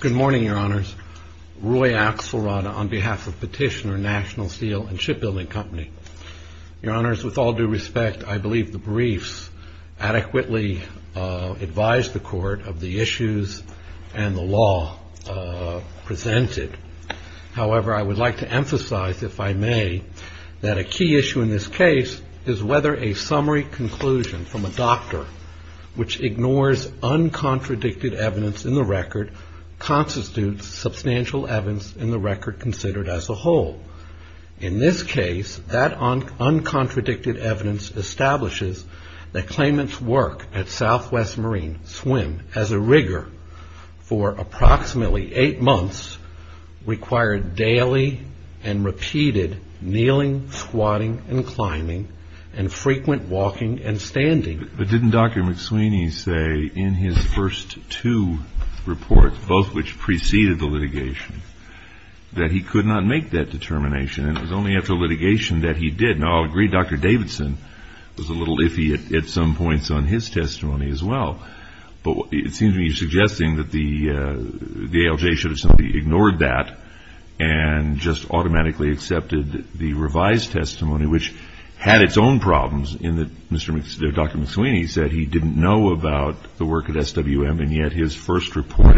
Good morning, Your Honors. Roy Axelrod on behalf of Petitioner National Steel and Shipbuilding Company. Your Honors, with all due respect, I believe the briefs adequately advised the Court of the issues and the law presented. However, I would like to emphasize, if I may, that a key issue in this case is whether a summary conclusion from a doctor which ignores uncontradicted evidence in the record constitutes substantial evidence in the record considered as a whole. In this case, that uncontradicted evidence establishes that claimant's work at Southwest Marine Swim as a rigger for approximately eight months required daily and repeated kneeling, squatting, and climbing, and frequent walking and standing. But didn't Dr. McSweeney say in his first two reports, both which preceded the litigation, that he could not make that determination and it was only after litigation that he did? Now, I'll agree Dr. Davidson was a little iffy at some points on his testimony as well, but it seems to me he's suggesting that the ALJ should have simply ignored that and just automatically accepted the revised testimony, which had its own problems in that Dr. McSweeney said he didn't know about the work at SWM, and yet his first report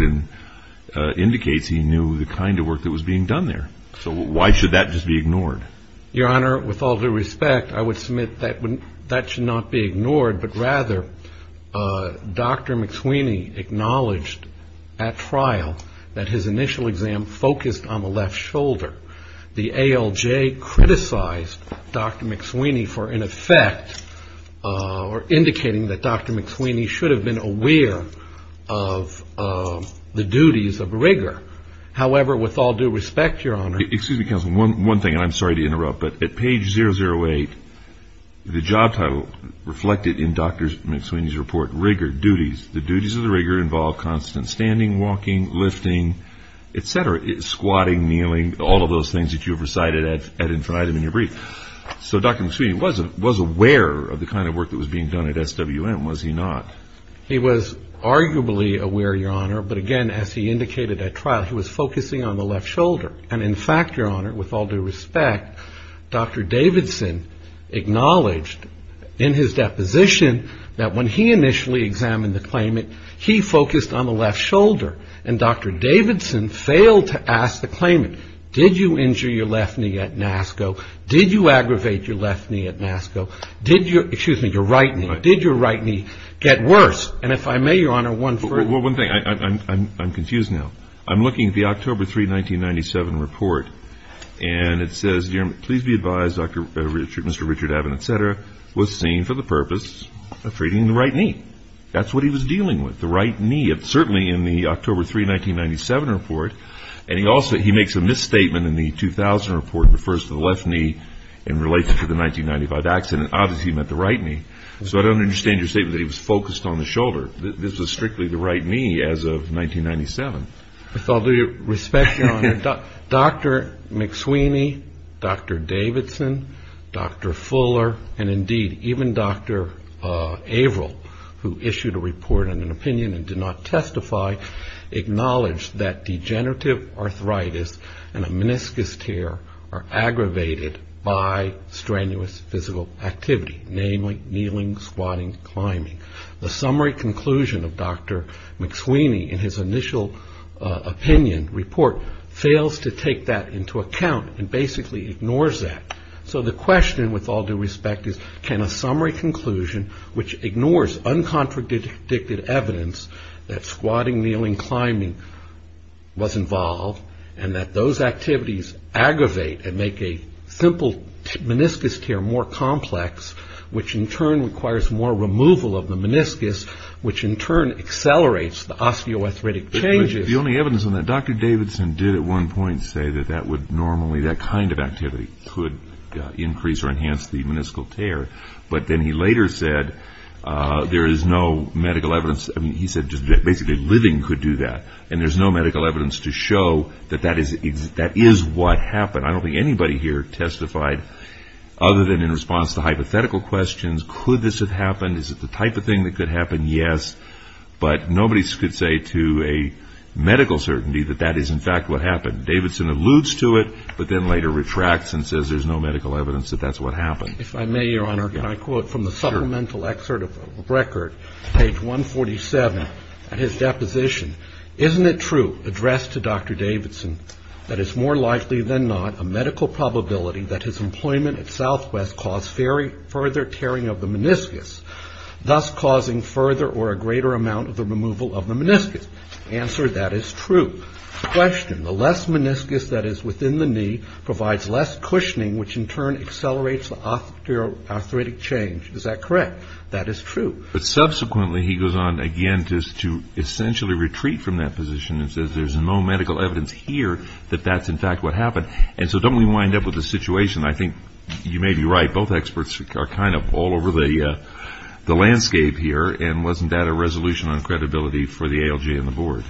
indicates he knew the kind of work that was being done there. So why should that just be ignored? Your Honor, with all due respect, I would submit that that should not be ignored, but rather Dr. McSweeney acknowledged at trial that his initial exam focused on the left shoulder. The ALJ criticized Dr. McSweeney for, in effect, indicating that Dr. McSweeney should have been aware of the duties of a rigger. However, with all due respect, Your Honor. Excuse me, counsel, one thing, and I'm sorry to interrupt, but at page 008, the job title reflected in Dr. McSweeney's report, rigger duties, the duties of the rigger involve constant standing, walking, lifting, et cetera, squatting, kneeling, all of those things that you have recited at infinitum in your brief. So Dr. McSweeney was aware of the kind of work that was being done at SWM, was he not? He was arguably aware, Your Honor, but again, as he indicated at trial, he was focusing on the left shoulder, and in fact, Your Honor, with all due respect, Dr. Davidson acknowledged in his deposition that when he initially examined the claimant, he focused on the left shoulder, and Dr. Davidson failed to ask the claimant, did you injure your left knee at NASCO? Did you aggravate your left knee at NASCO? Did your, excuse me, your right knee, did your right knee get worse? And if I may, Your Honor, one thing. Well, one thing. I'm confused now. I'm looking at the October 3, 1997 report, and it says, please be advised, Mr. Richard Avin, et cetera, was seen for the purpose of treating the right knee. That's what he was dealing with, the right knee. It's certainly in the October 3, 1997 report, and he also, he makes a misstatement in the 2000 report, refers to the left knee in relation to the 1995 accident. Obviously, he meant the right knee. So I don't understand your statement that he was focused on the shoulder. This was strictly the right knee as of 1997. With all due respect, Your Honor, Dr. McSweeney, Dr. Davidson, Dr. Fuller, and indeed even Dr. Averill, who issued a report and an opinion and did not testify, acknowledged that degenerative arthritis and a meniscus tear are aggravated by strenuous physical activity, namely kneeling, squatting, climbing. The summary conclusion of Dr. McSweeney in his initial opinion report fails to take that into account and basically ignores that. So the question, with all due respect, is can a summary conclusion, which ignores uncontradicted evidence that squatting, kneeling, climbing was involved and that those activities aggravate and make a simple meniscus tear more complex, which in turn requires more removal of the meniscus, which in turn accelerates the osteoarthritic changes. The only evidence on that, Dr. Davidson did at one point say that that would normally, that kind of activity could increase or enhance the meniscal tear, but then he later said there is no medical evidence. I mean, he said just basically living could do that, and there's no medical evidence to show that that is what happened. I don't think anybody here testified other than in response to hypothetical questions. Could this have happened? Is it the type of thing that could happen? Yes, but nobody could say to a medical certainty that that is in fact what happened. Davidson alludes to it, but then later retracts and says there's no medical evidence that that's what happened. If I may, Your Honor, can I quote from the supplemental excerpt of a record, page 147, at his deposition? Isn't it true, addressed to Dr. Davidson, that it's more likely than not a medical probability that his employment at Southwest caused further tearing of the meniscus, thus causing further or a greater amount of the removal of the meniscus? Answer, that is true. Question, the less meniscus that is within the knee provides less cushioning, which in turn accelerates the arthritic change. Is that correct? That is true. But subsequently he goes on again just to essentially retreat from that position and says there's no medical evidence here that that's in fact what happened. And so don't we wind up with a situation, I think you may be right, both experts are kind of all over the landscape here, and wasn't that a resolution on credibility for the ALJ and the Board?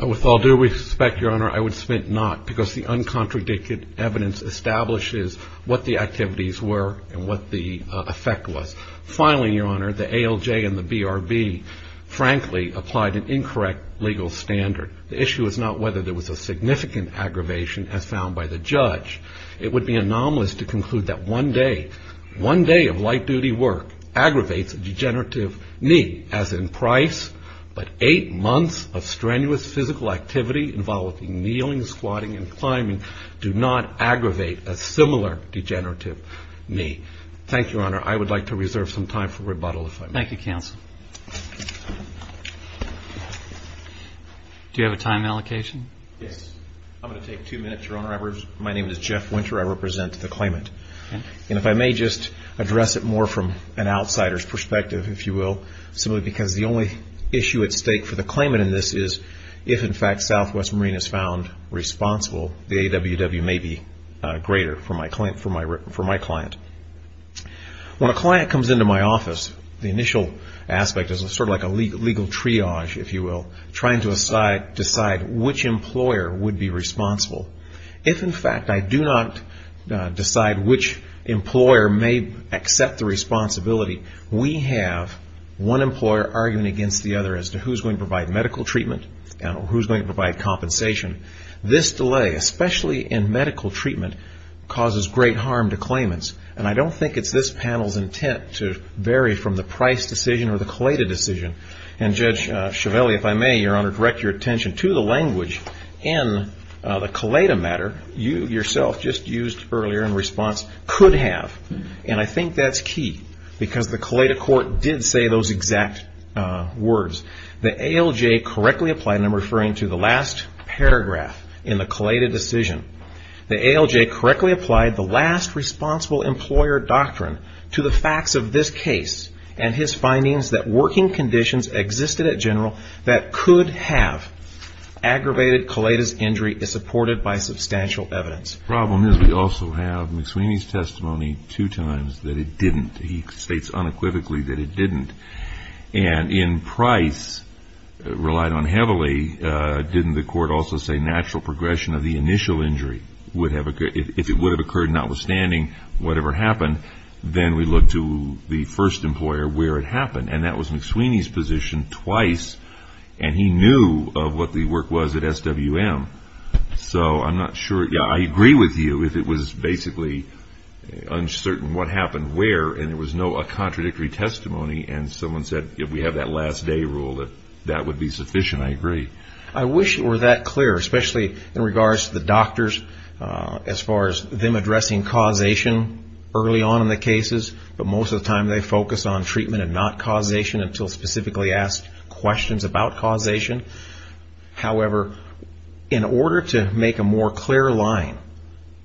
With all due respect, Your Honor, I would submit not, because the uncontradicted evidence establishes what the activities were and what the effect was. Finally, Your Honor, the ALJ and the BRB frankly applied an incorrect legal standard. The issue is not whether there was a significant aggravation as found by the judge. It would be anomalous to conclude that one day, one day of light-duty work aggravates a degenerative knee, as in Price, but eight months of strenuous physical activity involving kneeling, squatting, and climbing do not aggravate a similar degenerative knee. Thank you, Your Honor. I would like to reserve some time for rebuttal if I may. Thank you, counsel. Do you have a time allocation? Yes. I'm going to take two minutes, Your Honor. My name is Jeff Winter. I represent the claimant. And if I may just address it more from an outsider's perspective, if you will, simply because the only issue at stake for the claimant in this is if, in fact, Southwest Marine is found responsible, the AWW may be greater for my client. When a client comes into my office, the initial aspect is sort of like a legal triage, if you will, trying to decide which employer would be responsible. If, in fact, I do not decide which employer may accept the responsibility, we have one employer arguing against the other as to who's going to provide medical treatment and who's going to provide compensation. This delay, especially in medical treatment, causes great harm to claimants. And I don't think it's this panel's intent to vary from the Price decision or the Collada decision. And, Judge Chiavelli, if I may, Your Honor, direct your attention to the language in the Collada matter, you yourself just used earlier in response, could have. And I think that's key because the Collada court did say those exact words. The ALJ correctly applied, and I'm referring to the last paragraph in the Collada decision, the ALJ correctly applied the last responsible employer doctrine to the facts of this case and his findings that working conditions existed at General that could have aggravated Collada's injury is supported by substantial evidence. The problem is we also have McSweeney's testimony two times that it didn't. He states unequivocally that it didn't. And in Price, relied on heavily, didn't the court also say natural progression of the initial injury would have occurred? If it would have occurred, notwithstanding whatever happened, then we look to the first employer where it happened. And that was McSweeney's position twice. And he knew of what the work was at SWM. So I'm not sure. I agree with you if it was basically uncertain what happened where, and there was no contradictory testimony, and someone said if we have that last day rule that that would be sufficient. I agree. I wish it were that clear, especially in regards to the doctors, as far as them addressing causation early on in the cases. But most of the time they focus on treatment and not causation until specifically asked questions about causation. However, in order to make a more clear line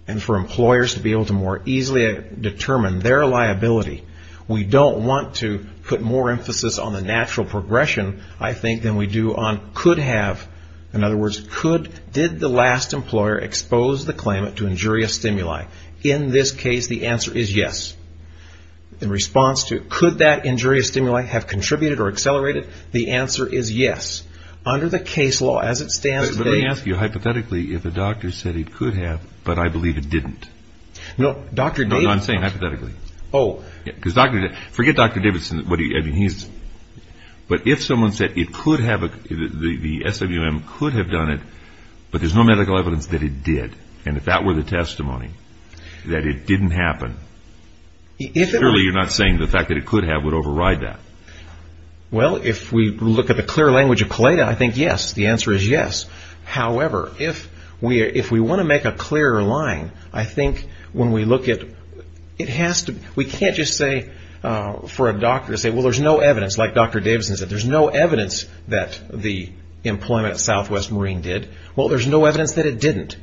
and for employers to be able to more easily determine their liability, we don't want to put more emphasis on the natural progression, I think, than we do on could have. In other words, did the last employer expose the claimant to injurious stimuli? In this case, the answer is yes. In response to could that injurious stimuli have contributed or accelerated, the answer is yes. Under the case law as it stands today. Let me ask you hypothetically if a doctor said it could have, but I believe it didn't. No, Dr. Davidson. No, I'm saying hypothetically. Oh. Forget Dr. Davidson. But if someone said the SWM could have done it, but there's no medical evidence that it did, and if that were the testimony that it didn't happen, surely you're not saying the fact that it could have would override that. Well, if we look at the clear language of COLETA, I think yes. The answer is yes. However, if we want to make a clearer line, I think when we look at it has to be. We can't just say for a doctor to say, well, there's no evidence like Dr. Davidson said. There's no evidence that the employment at Southwest Marine did. Well, there's no evidence that it didn't.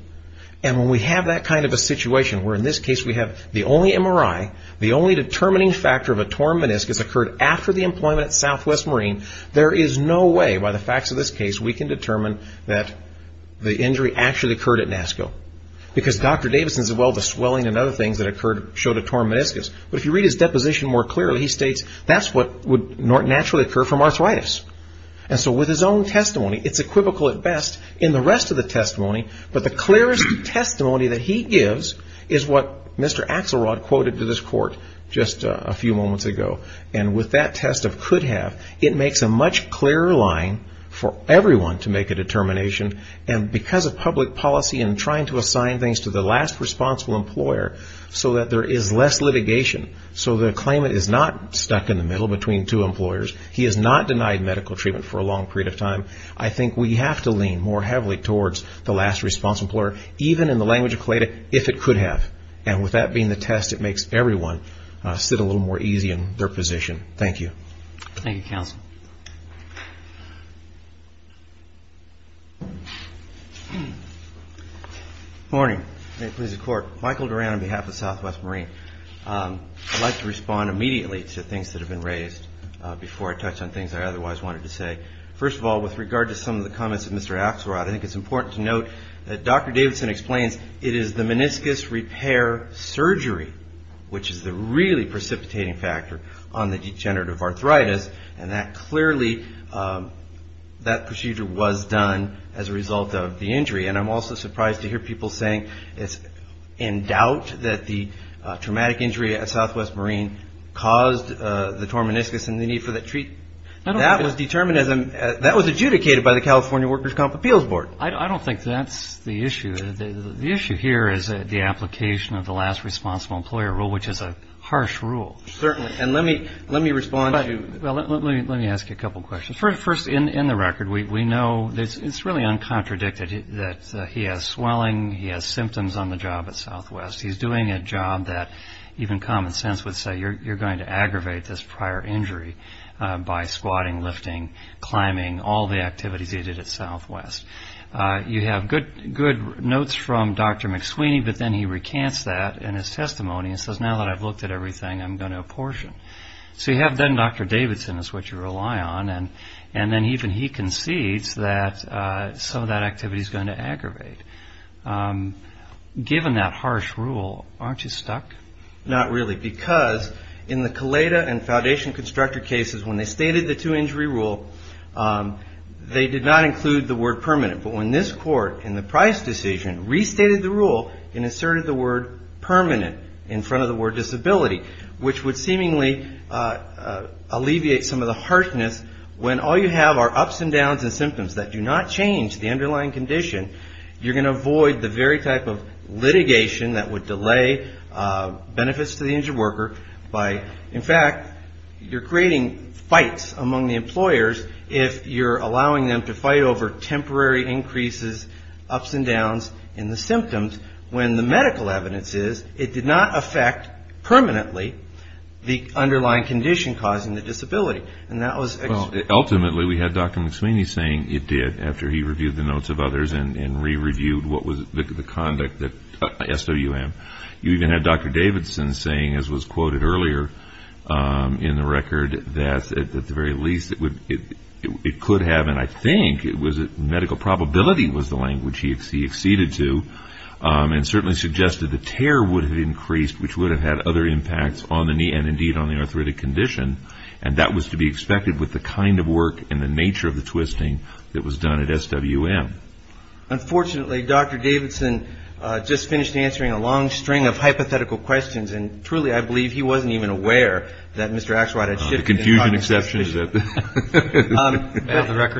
And when we have that kind of a situation where in this case we have the only MRI, the only determining factor of a torn meniscus occurred after the employment at Southwest Marine, there is no way by the facts of this case we can determine that the injury actually occurred at NASCO. Because Dr. Davidson said, well, the swelling and other things that occurred showed a torn meniscus. But if you read his deposition more clearly, he states that's what would naturally occur from arthritis. And so with his own testimony, it's equivocal at best in the rest of the testimony, but the clearest testimony that he gives is what Mr. Axelrod quoted to this court just a few moments ago. And with that test of could have, it makes a much clearer line for everyone to make a determination. And because of public policy and trying to assign things to the last responsible employer so that there is less litigation, so the claimant is not stuck in the middle between two employers, he is not denied medical treatment for a long period of time, I think we have to lean more heavily towards the last responsible employer, even in the language of CLATA, if it could have. And with that being the test, it makes everyone sit a little more easy in their position. Thank you. Thank you, counsel. Good morning. May it please the Court. Michael Duran on behalf of Southwest Marine. I'd like to respond immediately to things that have been raised before I touch on things I otherwise wanted to say. First of all, with regard to some of the comments of Mr. Axelrod, I think it's important to note that Dr. Davidson explains it is the meniscus repair surgery which is the really precipitating factor on the degenerative arthritis, and that clearly, that procedure was done as a result of the injury. And I'm also surprised to hear people saying it's in doubt that the traumatic injury at Southwest Marine caused the torn meniscus and the need for that treatment. That was determined as a – that was adjudicated by the California Workers' Comp Appeals Board. I don't think that's the issue. The issue here is the application of the last responsible employer rule, which is a harsh rule. Certainly. And let me respond to – Well, let me ask you a couple questions. First, in the record, we know it's really uncontradicted that he has swelling, he has symptoms on the job at Southwest. He's doing a job that even common sense would say you're going to aggravate this prior injury by squatting, lifting, climbing, all the activities he did at Southwest. You have good notes from Dr. McSweeney, but then he recants that in his testimony and says, now that I've looked at everything, I'm going to apportion. So you have then Dr. Davidson is what you rely on, and then even he concedes that some of that activity is going to aggravate. Given that harsh rule, aren't you stuck? Not really, because in the Caleda and Foundation Constructor cases, when they stated the two-injury rule, they did not include the word permanent. But when this court in the Price decision restated the rule and asserted the word permanent in front of the word disability, which would seemingly alleviate some of the harshness when all you have are ups and downs and symptoms that do not change the underlying condition, you're going to avoid the very type of litigation that would delay benefits to the injured worker by, in fact, you're creating fights among the employers if you're allowing them to fight over temporary increases, ups and downs in the symptoms when the medical evidence is it did not affect permanently the underlying condition causing the disability. Ultimately, we had Dr. McSweeney saying it did after he reviewed the notes of others and re-reviewed what was the conduct at SWM. You even had Dr. Davidson saying, as was quoted earlier in the record, that at the very least it could have, and I think it was medical probability was the language he acceded to and certainly suggested the tear would have increased, which would have had other impacts on the knee and indeed on the arthritic condition. And that was to be expected with the kind of work and the nature of the twisting that was done at SWM. Unfortunately, Dr. Davidson just finished answering a long string of hypothetical questions, and truly I believe he wasn't even aware that Mr. Axelrod had shifted. The confusion exception.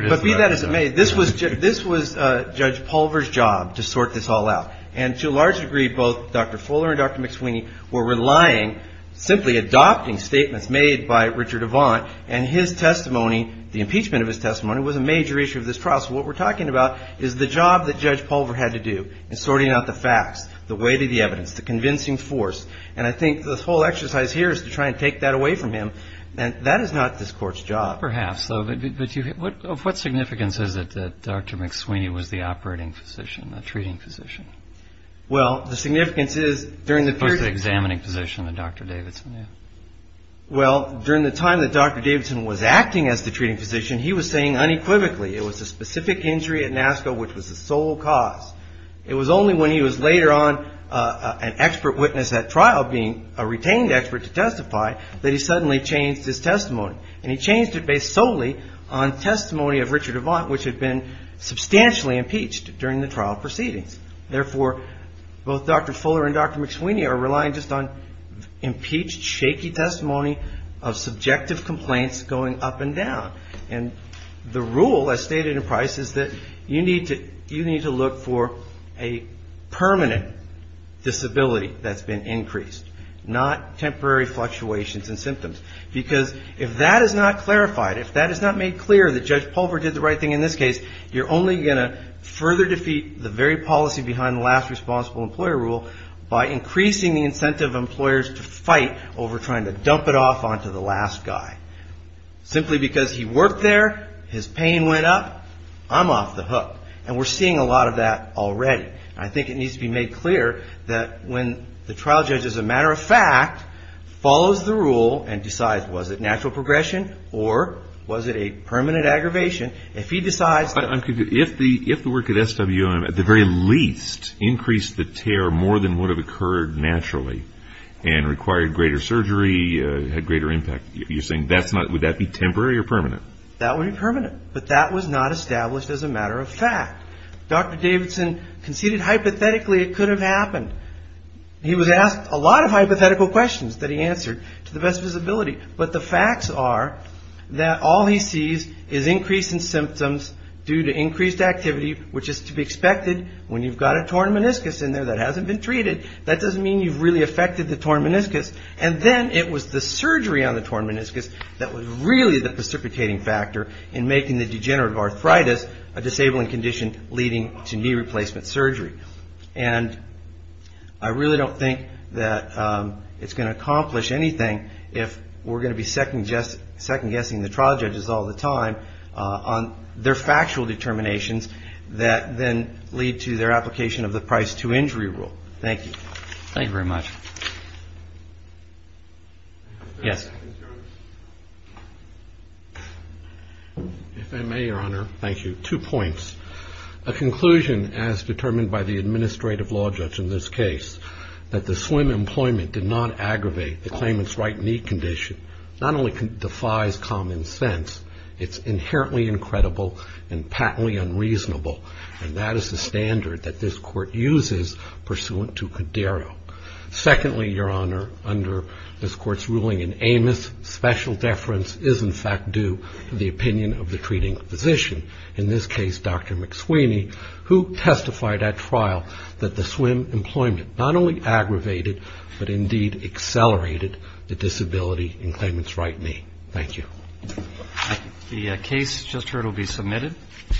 But be that as it may, this was Judge Pulver's job to sort this all out. And to a large degree, both Dr. Fuller and Dr. McSweeney were relying, simply adopting statements made by Richard Avant and his testimony, the impeachment of his testimony, was a major issue of this trial. So what we're talking about is the job that Judge Pulver had to do in sorting out the facts, the weight of the evidence, the convincing force. And I think the whole exercise here is to try and take that away from him. And that is not this Court's job. Perhaps. But what significance is it that Dr. McSweeney was the operating physician, the treating physician? Well, the significance is during the period of time. The examining physician, Dr. Davidson. Well, during the time that Dr. Davidson was acting as the treating physician, he was saying unequivocally, it was a specific injury at NASCO which was the sole cause. It was only when he was later on an expert witness at trial, being a retained expert to testify, that he suddenly changed his testimony. And he changed it based solely on testimony of Richard Avant, which had been substantially impeached during the trial proceedings. Therefore, both Dr. Fuller and Dr. McSweeney are relying just on impeached, shaky testimony of subjective complaints going up and down. And the rule, as stated in Price, is that you need to look for a permanent disability that's been increased, not temporary fluctuations in symptoms. Because if that is not clarified, if that is not made clear that Judge Pulver did the right thing in this case, you're only going to further defeat the very policy behind the last responsible employer rule by increasing the incentive of employers to fight over trying to dump it off onto the last guy. Simply because he worked there, his pain went up, I'm off the hook. And we're seeing a lot of that already. And I think it needs to be made clear that when the trial judge, as a matter of fact, follows the rule and decides was it natural progression or was it a permanent aggravation, if he decides that. But if the work at SWM at the very least increased the tear more than would have occurred naturally and required greater surgery, had greater impact, you're saying that's not, would that be temporary or permanent? That would be permanent. But that was not established as a matter of fact. Dr. Davidson conceded hypothetically it could have happened. He was asked a lot of hypothetical questions that he answered to the best of his ability. But the facts are that all he sees is increase in symptoms due to increased activity, which is to be expected when you've got a torn meniscus in there that hasn't been treated. That doesn't mean you've really affected the torn meniscus. And then it was the surgery on the torn meniscus that was really the precipitating factor in making the degenerative arthritis a disabling condition leading to knee replacement surgery. And I really don't think that it's going to accomplish anything if we're going to be second-guessing the trial judges all the time on their factual determinations that then lead to their application of the price-to-injury rule. Thank you. Thank you very much. Yes. If I may, Your Honor. Thank you. Two points. A conclusion, as determined by the administrative law judge in this case, that the slim employment did not aggravate the claimant's right knee condition, not only defies common sense, it's inherently incredible and patently unreasonable. And that is the standard that this Court uses pursuant to Cadero. Secondly, Your Honor, under this Court's ruling in Amos, special deference is in fact due to the opinion of the treating physician. In this case, Dr. McSweeney, who testified at trial that the slim employment not only aggravated, but indeed accelerated the disability in claimant's right knee. Thank you. The case just heard will be submitted.